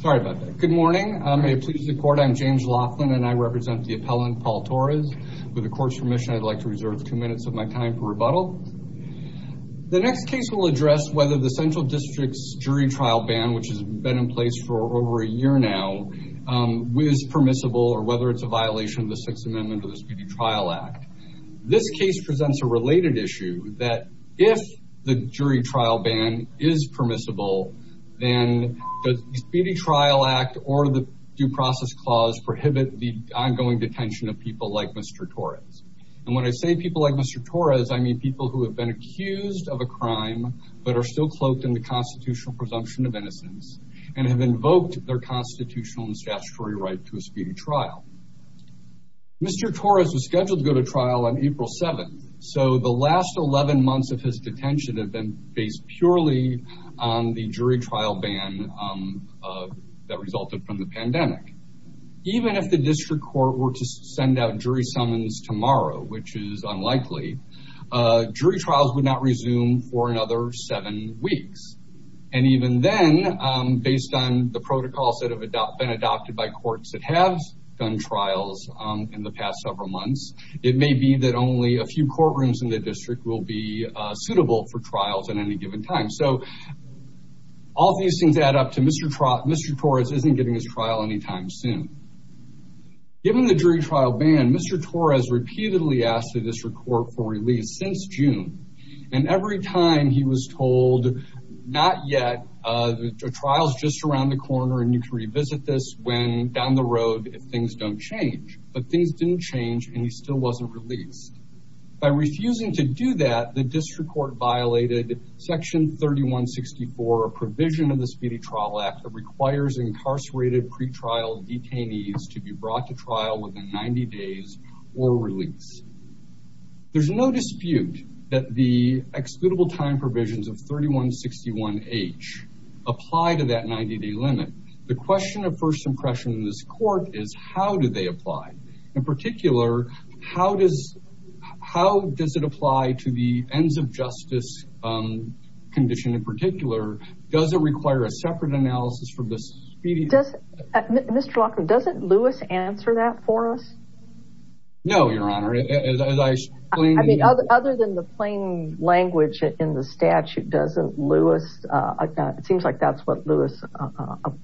Sorry about that. Good morning. May it please the court, I'm James Laughlin and I represent the appellant Paul Torres. With the court's permission I'd like to reserve two minutes of my time for rebuttal. The next case will address whether the Central District's jury trial ban, which has been in place for over a year now, is permissible or whether it's a violation of the Sixth Amendment of the Speedy Trial Act. This case presents a related issue that if the jury trial ban is permissible, then the Speedy Trial Act or the Due Process Clause prohibit the ongoing detention of people like Mr. Torres. And when I say people like Mr. Torres, I mean people who have been accused of a crime but are still cloaked in the constitutional presumption of innocence and have invoked their constitutional and statutory right to a speedy trial. Mr. Torres was scheduled to go to trial on April 7th, so the last 11 months of his detention have been based purely on the jury trial ban that resulted from the pandemic. Even if the district court were to send out jury summons tomorrow, which is unlikely, jury trials would not resume for another seven weeks. And even then, based on the protocols that have been adopted by courts that have done trials in the past several months, it may be that only a few courtrooms in the given time. So all these things add up to Mr. Torres isn't getting his trial anytime soon. Given the jury trial ban, Mr. Torres repeatedly asked the district court for release since June. And every time he was told, not yet, the trial's just around the corner and you can revisit this when down the road if things don't change. But things didn't change and he still wasn't released. By refusing to do that, the district court violated Section 3164, a provision of the Speedy Trial Act that requires incarcerated pretrial detainees to be brought to trial within 90 days or release. There's no dispute that the excludable time provisions of 3161H apply to that 90-day limit. The question of first impression in this court is how do they apply? In particular, how does it apply to the ends of justice condition in particular? Does it require a separate analysis from the Speedy? Mr. Lockwood, doesn't Lewis answer that for us? No, Your Honor. I mean, other than the plain language in the statute, doesn't Lewis, it seems like that's what Lewis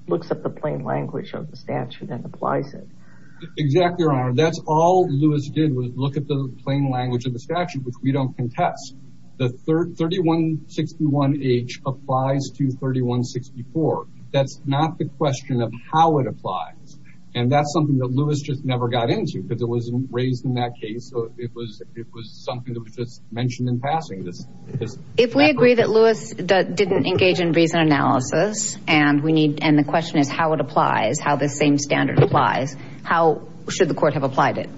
looks at the plain language of the statute and applies it. Exactly, Your Honor. That's all Lewis did was look at the plain language of the statute, which we don't contest. The 3161H applies to 3164. That's not the question of how it applies. And that's something that Lewis just never got into because it wasn't raised in that case. So it was something that was just mentioned in passing. If we agree that Lewis didn't engage in reason analysis and the question is how it applies, how the same standard applies, how should the court have applied it?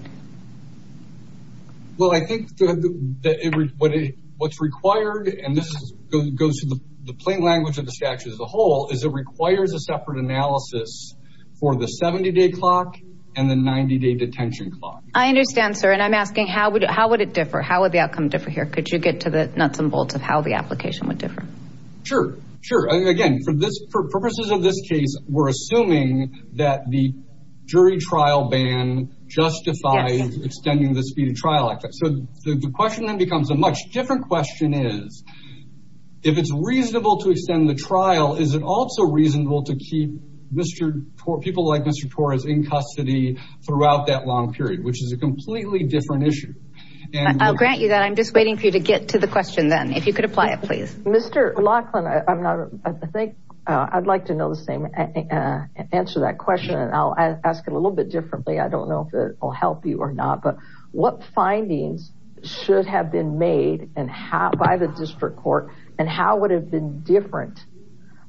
Well, I think what's required, and this goes to the plain language of the statute as a whole, is it requires a separate analysis for the 70-day clock and the 90-day detention clock. I understand, sir. And I'm asking, how would it differ? How would the outcome differ here? Could you get to the nuts and Sure. Sure. Again, for purposes of this case, we're assuming that the jury trial ban justifies extending the speed of trial. So the question then becomes a much different question is, if it's reasonable to extend the trial, is it also reasonable to keep people like Mr. Torres in custody throughout that long period, which is a completely different issue? I'll grant you that. I'm just waiting for you to get to the question then, if you could apply it, please. Mr. Laughlin, I think I'd like to know the same, answer that question, and I'll ask it a little bit differently. I don't know if it will help you or not, but what findings should have been made by the district court and how would it have been different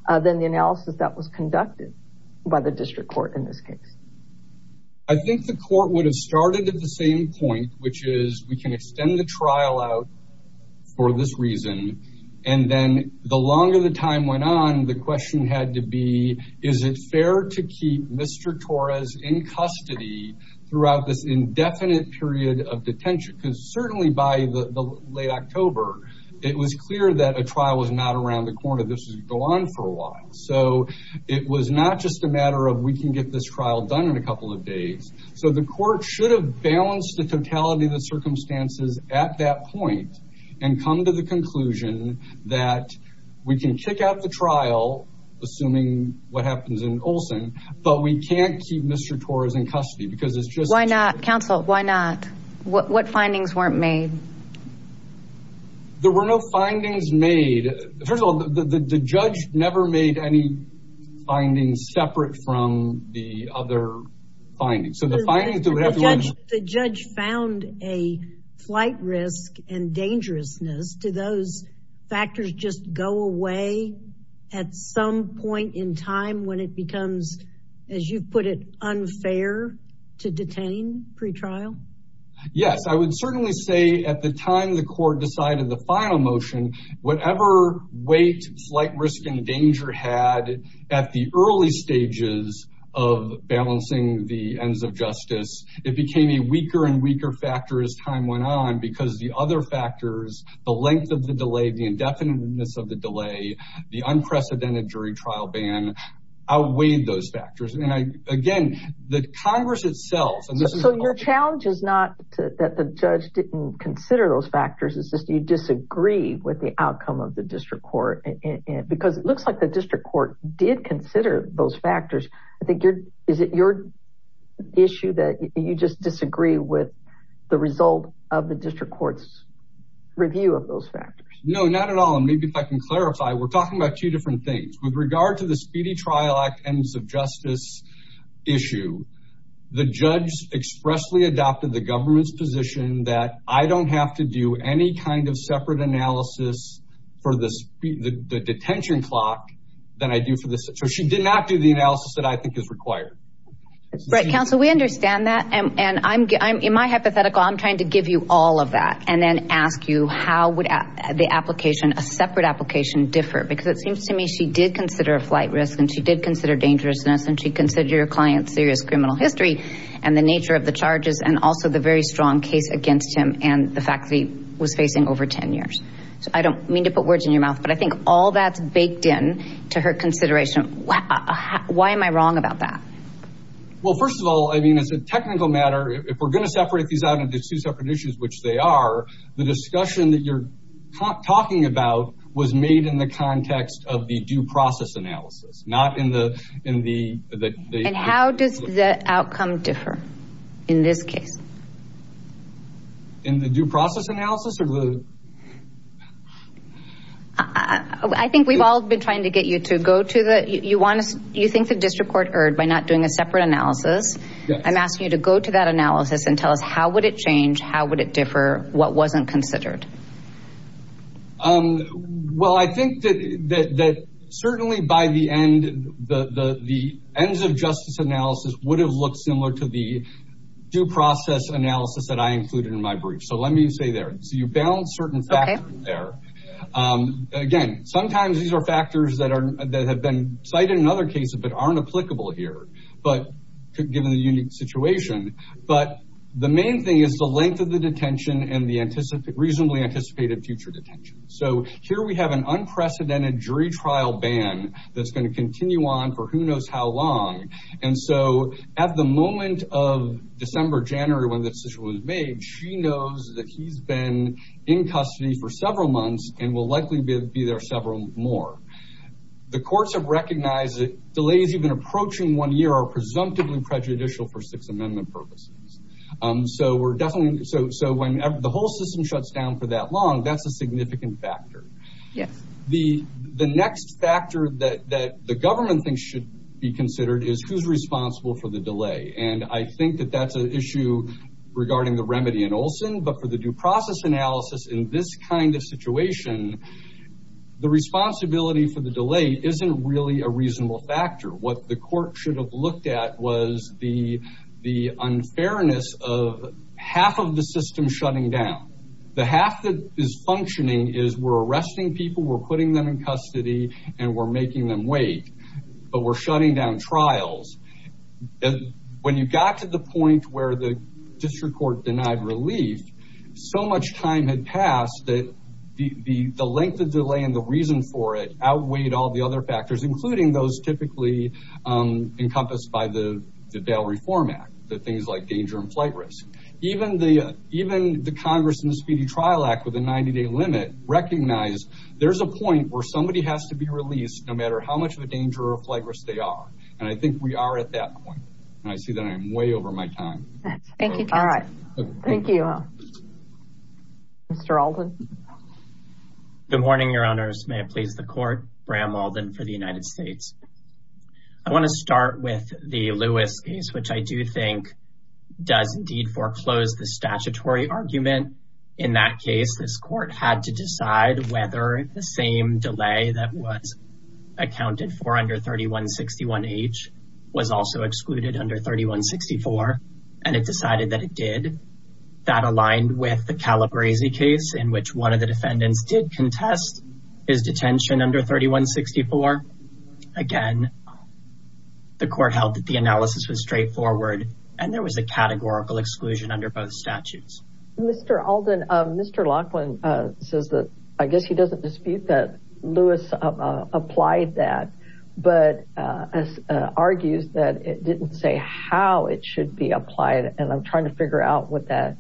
than the analysis that was conducted by the district court in this case? I think the court would have started at the same point, which is we can extend the trial out for this reason. And then the longer the time went on, the question had to be, is it fair to keep Mr. Torres in custody throughout this indefinite period of detention? Because certainly by the late October, it was clear that a trial was not around the corner. This would go on for a while. So it was not just a matter of we can get this trial done in a couple of days. So the court should have balanced the totality of the circumstances at that point and come to the conclusion that we can kick out the trial, assuming what happens in Olson, but we can't keep Mr. Torres in custody because it's just- Why not? Counsel, why not? What findings weren't made? There were no findings made. First of all, the judge never made any findings separate from the other findings. The judge found a flight risk and dangerousness. Do those factors just go away at some point in time when it becomes, as you put it, unfair to detain pretrial? Yes. I would certainly say at the time the court decided the final motion, whatever weight, flight of balancing the ends of justice, it became a weaker and weaker factor as time went on because the other factors, the length of the delay, the indefiniteness of the delay, the unprecedented jury trial ban outweighed those factors. And again, the Congress itself- So your challenge is not that the judge didn't consider those factors. It's just you disagree with the outcome of the I think you're- Is it your issue that you just disagree with the result of the district court's review of those factors? No, not at all. And maybe if I can clarify, we're talking about two different things. With regard to the Speedy Trial Act ends of justice issue, the judge expressly adopted the government's position that I don't have to do any kind of separate analysis for the detention clock than I do for the- So she did not do analysis that I think is required. Right. Counsel, we understand that. And in my hypothetical, I'm trying to give you all of that and then ask you how would the application, a separate application differ? Because it seems to me she did consider a flight risk and she did consider dangerousness and she considered your client's serious criminal history and the nature of the charges and also the very strong case against him and the fact that he was facing over 10 years. So I don't mean to put words in your mouth, but I think all that's baked in to her consideration. Why am I wrong about that? Well, first of all, I mean, it's a technical matter. If we're going to separate these out into two separate issues, which they are, the discussion that you're talking about was made in the context of the due process analysis, not in the- And how does the outcome differ in this case? In the due process analysis? Or the- I think we've all been trying to get you to go to the- You think the district court erred by not doing a separate analysis. I'm asking you to go to that analysis and tell us how would it change? How would it differ? What wasn't considered? Well, I think that certainly by the end, the ends of justice analysis would have looked similar to the due process analysis that I included in my brief. So let me say there. So you balance certain factors there. Again, sometimes these are factors that have been cited in other cases, but aren't applicable here, but given the unique situation. But the main thing is the length of the detention and the reasonably anticipated future detention. So here we have an unprecedented jury trial ban that's going to continue on for who knows how long. And so at the moment of December, January, when this decision was made, she knows that he's been in custody for several months and will likely be there several more. The courts have recognized that delays even approaching one year are presumptively prejudicial for Sixth Amendment purposes. So we're definitely- So when the whole system shuts down for that long, that's a significant factor. Yes. The next factor that the government thinks should be considered is who's responsible for the delay. And I think that that's an issue regarding the remedy in Olson, but for the due process analysis in this kind of situation, the responsibility for the delay isn't really a reasonable factor. What the court should have looked at was the unfairness of half of the system shutting down. The half that is functioning is we're arresting people, we're putting them in custody, and we're making them trials. When you got to the point where the district court denied relief, so much time had passed that the length of delay and the reason for it outweighed all the other factors, including those typically encompassed by the Dail Reform Act, the things like danger and flight risk. Even the Congress and the Speedy Trial Act with a 90-day limit recognize there's a point where somebody has to be released no matter how much of a danger or flight risk they are. And I think we are at that point. And I see that I'm way over my time. Thank you. All right. Thank you. Mr. Alden. Good morning, Your Honors. May it please the court, Bram Alden for the United States. I want to start with the Lewis case, which I do think does indeed foreclose the statutory argument. In that case, this court had to decide whether the same delay that was accounted for under 3161H was also excluded under 3164. And it decided that it did. That aligned with the Calabresi case in which one of the defendants did contest his detention under 3164. Again, the court held that the analysis was straightforward, and there was a categorical exclusion under both statutes. Mr. Alden, Mr. Laughlin says that, I guess he doesn't dispute that Lewis applied that, but argues that it didn't say how it should be applied. And I'm trying to figure out what that,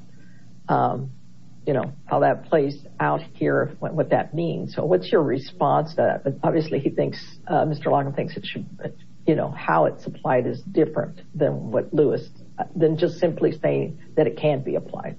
you know, how that plays out here, what that means. So what's your response to that? But obviously he thinks, Mr. Laughlin thinks it should, you know, how it's applied is different than what Lewis, than just simply saying that it can't be applied.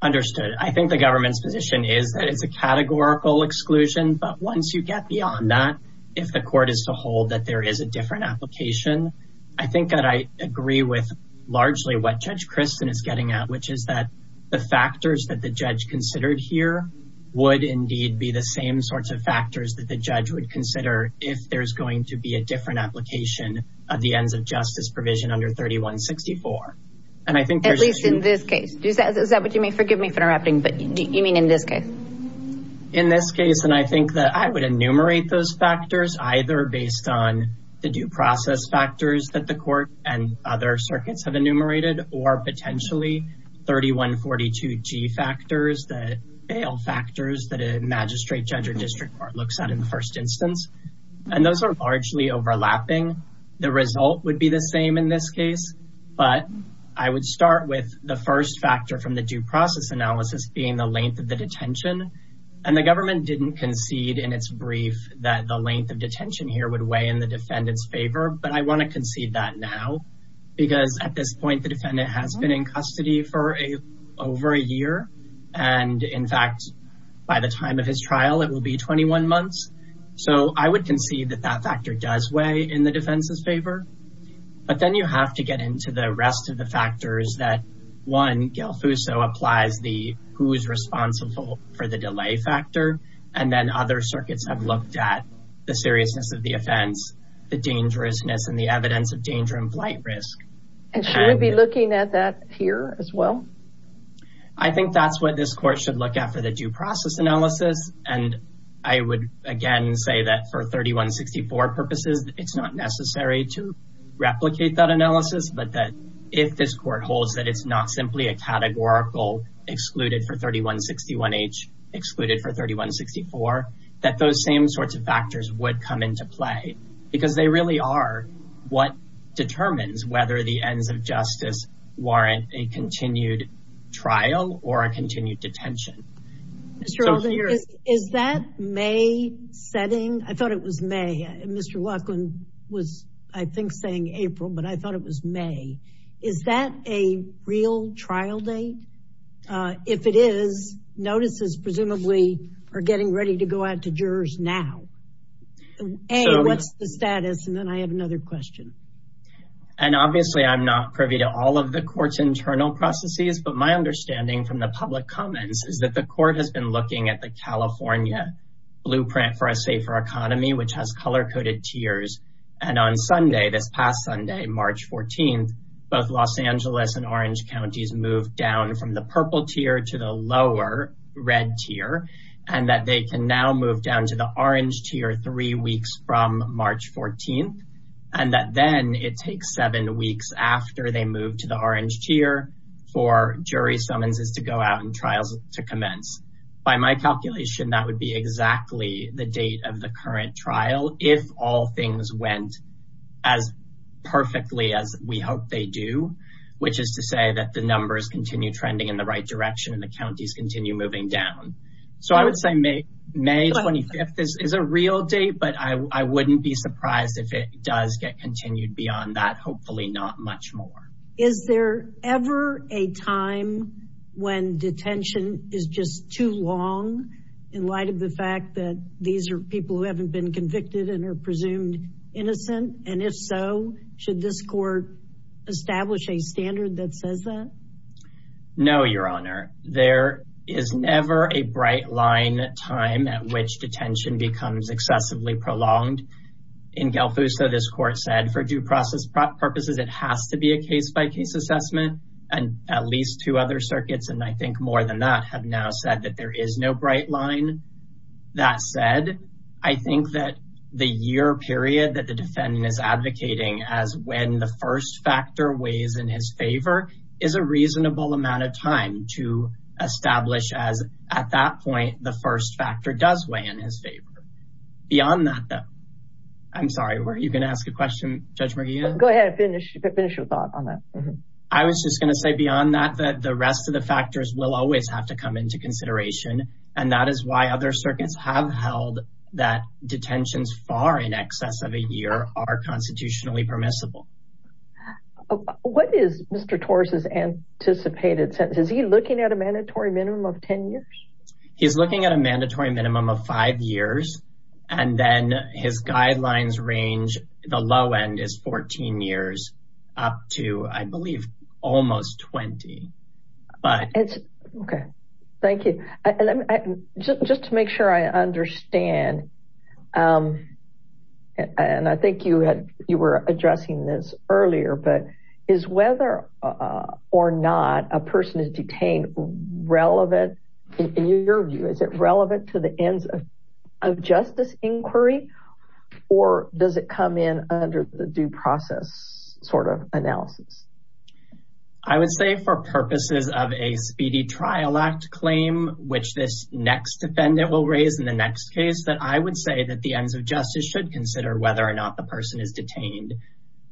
Understood. I think the government's position is that it's a categorical exclusion, but once you get beyond that, if the court is to hold that there is a different application, I think that I agree with largely what Judge Christin is getting at, which is that the factors that the judge considered here would indeed be the same sorts of factors that the judge would consider if there's going to be a different application of the ends of justice provision under 3164. And I think, at least in this case, is that what you mean? Forgive me for interrupting, but you mean in this case? In this case, and I think that I would enumerate those factors, either based on the due process factors that the court and other circuits have enumerated, or potentially 3142G factors, the bail factors that a magistrate judge or district court looks at in the first instance. And those are largely overlapping. The result would be the same in this case. But I would start with the first factor from the due process analysis being the length of the detention. And the government didn't concede in its brief that the length of detention here would weigh in the defendant's favor. But I want to concede that now, because at this point, the defendant has been in custody for over a year. And in fact, by the time of his trial, it will be 21 months. So I would concede that that factor does weigh in the defense's favor. But then you have to get into the rest of the factors that, one, Gale Fuso applies the who's responsible for the delay factor. And then other circuits have looked at the seriousness of the offense, the dangerousness, and the evidence of danger and flight risk. And should we be looking at that here as well? I think that's what this court should look at for the due process analysis. And I would, again, say that for 3164 purposes, it's not necessary to replicate that analysis. But that if this court holds that it's not simply a categorical excluded for 3161H, excluded for 3164, that those same sorts of factors would come into play. Because they really are what determines whether the ends of justice warrant a continued trial or a continued detention. Mr. Alden, is that May setting? I thought it was May. Mr. Laughlin was, I think, saying April, but I thought it was May. Is that a real trial date? If it is, notices presumably are getting ready to go out to jurors now. A, what's the status? And then I have another question. And obviously, I'm not privy to all of the court's internal processes. But my understanding from the public comments is that the court has been looking at the California blueprint for a safer economy, which has color-coded tiers. And on Sunday, this past Sunday, March 14th, both Los Angeles and Orange counties moved down from the purple tier to the lower red tier. And that they can now move down to the orange tier three weeks from March 14th. And that then it takes seven weeks after they move to the orange tier for jury summonses to go out and trials to commence. By my calculation, that would be exactly the date of the current trial if all things went as perfectly as we hope they do, which is to say that the numbers continue trending in the right direction and the counties continue moving down. So I would say May 25th is a real date, but I wouldn't be surprised if it does get continued beyond that, hopefully not much more. Is there ever a time when detention is just too long in light of the fact that these are people who haven't been convicted and are presumed innocent? And if so, should this court establish a standard that says that? No, Your Honor. There is never a bright line time at which detention becomes excessively prolonged. In Gelfuso, this court said for due process purposes, it has to be a case-by-case assessment and at least two other circuits. And I think more than that have now said that there is no bright line. That said, I think that the year period that the defendant is advocating as when the first factor weighs in his favor is a reasonable amount of time to establish as at that point, the first factor does weigh in his favor. Beyond that though, I'm sorry, were you going to ask a question, Judge Murguia? Go ahead and finish your thought on that. I was just going to say beyond that, that the rest of the factors will always have to come into consideration. And that is why other circuits have held that detentions far in excess of a year are constitutionally permissible. What is Mr. Torres's anticipated sentence? Is he looking at a mandatory minimum of 10 years? He's looking at a mandatory minimum of five years and then his guidelines range, the low end is 14 years up to, I believe, almost 20. Okay, thank you. Just to make sure I understand, and I think you were addressing this earlier, but is whether or not a person is detained relevant in your view, is it relevant to the ends of justice inquiry or does it come in under the process sort of analysis? I would say for purposes of a speedy trial act claim, which this next defendant will raise in the next case that I would say that the ends of justice should consider whether or not the person is detained.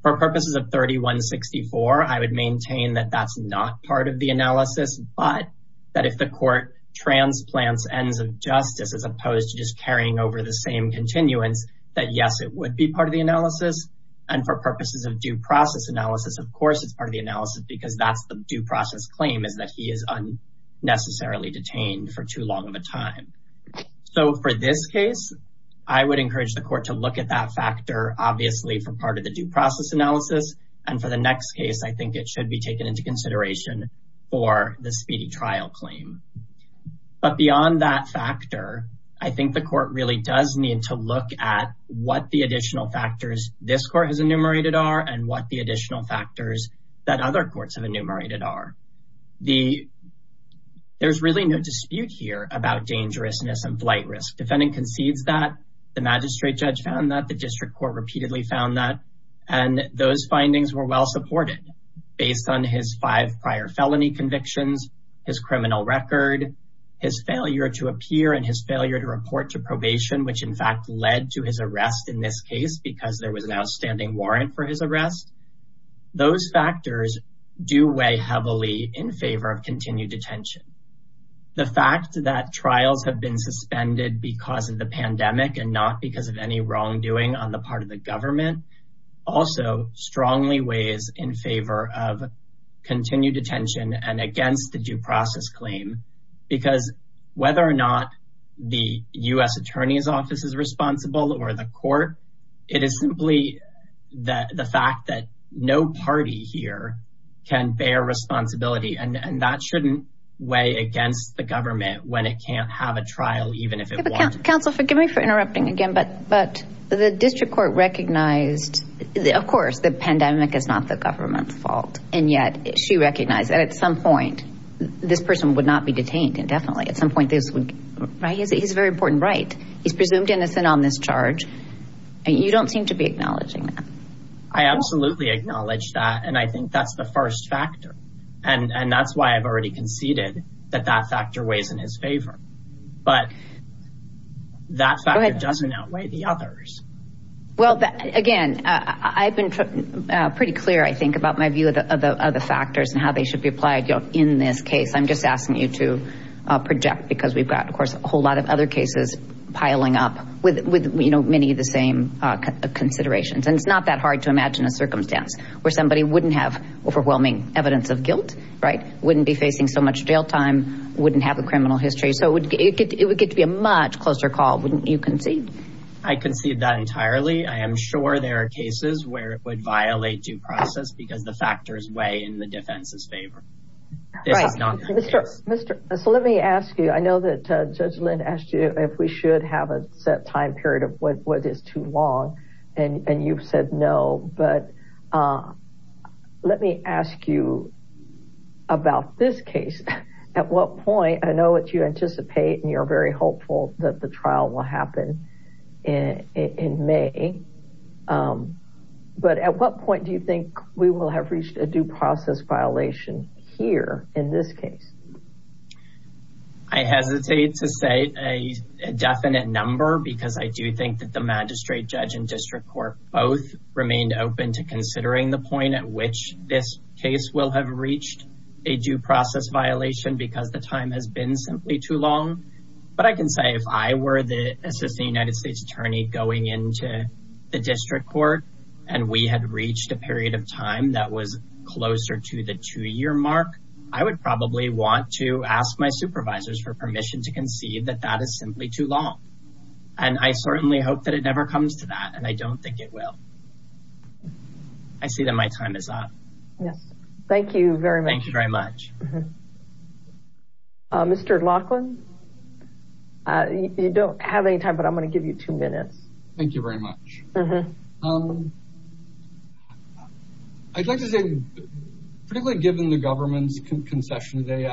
For purposes of 3164, I would maintain that that's not part of the analysis, but that if the court transplants ends of justice, as opposed to just purposes of due process analysis, of course, it's part of the analysis because that's the due process claim is that he is unnecessarily detained for too long of a time. So for this case, I would encourage the court to look at that factor, obviously, for part of the due process analysis. And for the next case, I think it should be taken into consideration for the speedy trial claim. But beyond that factor, I think the court really does need to look at what the additional factors this court has enumerated are and what the additional factors that other courts have enumerated are. There's really no dispute here about dangerousness and flight risk. Defending concedes that, the magistrate judge found that, the district court repeatedly found that, and those findings were well supported based on his five prior felony convictions, his criminal record, his failure to appear and his failure to report to probation, which in fact led to his outstanding warrant for his arrest. Those factors do weigh heavily in favor of continued detention. The fact that trials have been suspended because of the pandemic and not because of any wrongdoing on the part of the government also strongly weighs in favor of continued detention and against the due process claim. Because whether or not the U.S. Attorney's Office is responsible or the court, it is simply the fact that no party here can bear responsibility. And that shouldn't weigh against the government when it can't have a trial, even if it wants to. Counsel, forgive me for interrupting again, but the district court recognized, of course, the pandemic is not the government's fault. And yet she recognized that at some point, this person would not be detained indefinitely. At some point this would, right? He has a very you don't seem to be acknowledging that. I absolutely acknowledge that. And I think that's the first factor. And that's why I've already conceded that that factor weighs in his favor. But that factor doesn't outweigh the others. Well, again, I've been pretty clear, I think, about my view of the other factors and how they should be applied in this case. I'm just asking you to project because we've got, of course, a whole lot of other cases piling up with many of the same considerations. And it's not that hard to imagine a circumstance where somebody wouldn't have overwhelming evidence of guilt, right? Wouldn't be facing so much jail time, wouldn't have a criminal history. So it would get to be a much closer call. Wouldn't you concede? I concede that entirely. I am sure there are cases where it would violate due process because the factors weigh in the defense's favor. Mr. So let me ask you, I know that Judge Lynn asked you if we should have a set time period of what is too long. And you've said no. But let me ask you about this case. At what point, I know what you anticipate, and you're very hopeful that the trial will happen in May. But at what point do you think we will have reached a due process violation here in this case? I hesitate to say a definite number because I do think that the magistrate judge and district court both remained open to considering the point at which this case will have reached a due process violation because the time has been simply too long. But I can say if I were the Assistant United States Attorney going into the district court and we had reached a period of time that was closer to the two-year mark, I would probably want to ask my supervisors for permission to concede that that is simply too long. And I certainly hope that it never comes to that, and I don't think it will. I see that my time is up. Yes. Thank you very much. Thank you very much. Mm-hmm. Mr. Laughlin, you don't have any time, but I'm going to give you two minutes. Thank you very much. Mm-hmm. I'd like to say, particularly given the government's concession today,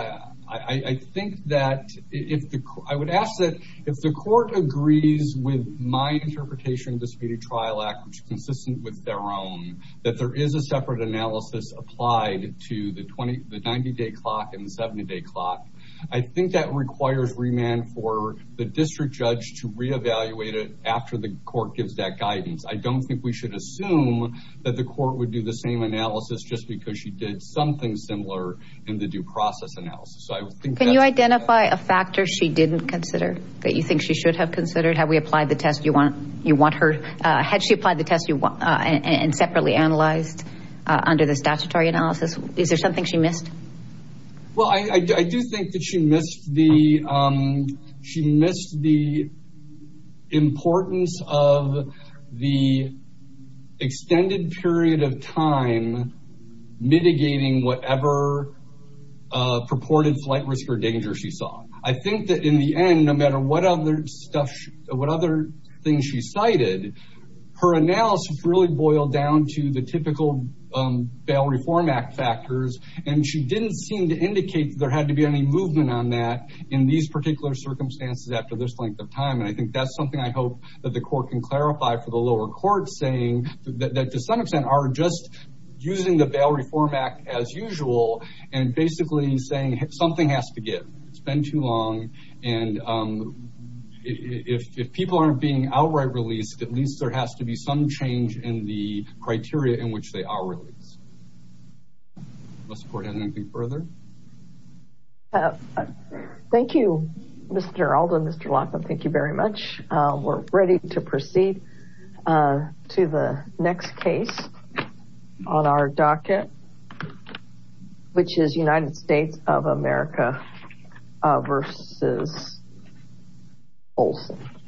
I think that if the court, I would ask that if the court agrees with my interpretation of the Speedy Trial Act, which is consistent with their own, that there is a separate analysis applied to the 90-day clock and the 70-day clock. I think that requires remand for the district judge to reevaluate it after the court gives that guidance. I don't think we should assume that the court would do the same analysis just because she did something similar in the due process analysis. So I think that's... Can you identify a factor she didn't consider that you think she should have considered? Had we applied the test you want her... Had she applied the test you want and separately analyzed under the statutory analysis? Is there something she missed? Well, I do think that she missed the importance of the extended period of time mitigating whatever purported flight risk or danger she saw. I think that in the end, no matter what other stuff, what other things she cited, her analysis really boiled down to the typical Bail Reform Act factors. And she didn't seem to indicate that there had to be any movement on that in these particular circumstances after this length of time. And I think that's something I hope that the court can clarify for the lower court saying that to some extent are just using the Bail Reform Act as usual and basically saying something has to give. It's been too long and if people aren't being outright released, at least there has to be some change in the criteria in which they are released. Does the court have anything further? Thank you, Mr. Alda and Mr. Lawson. Thank you very much. We're ready to proceed to the next case on our docket, which is United States of America versus Olson.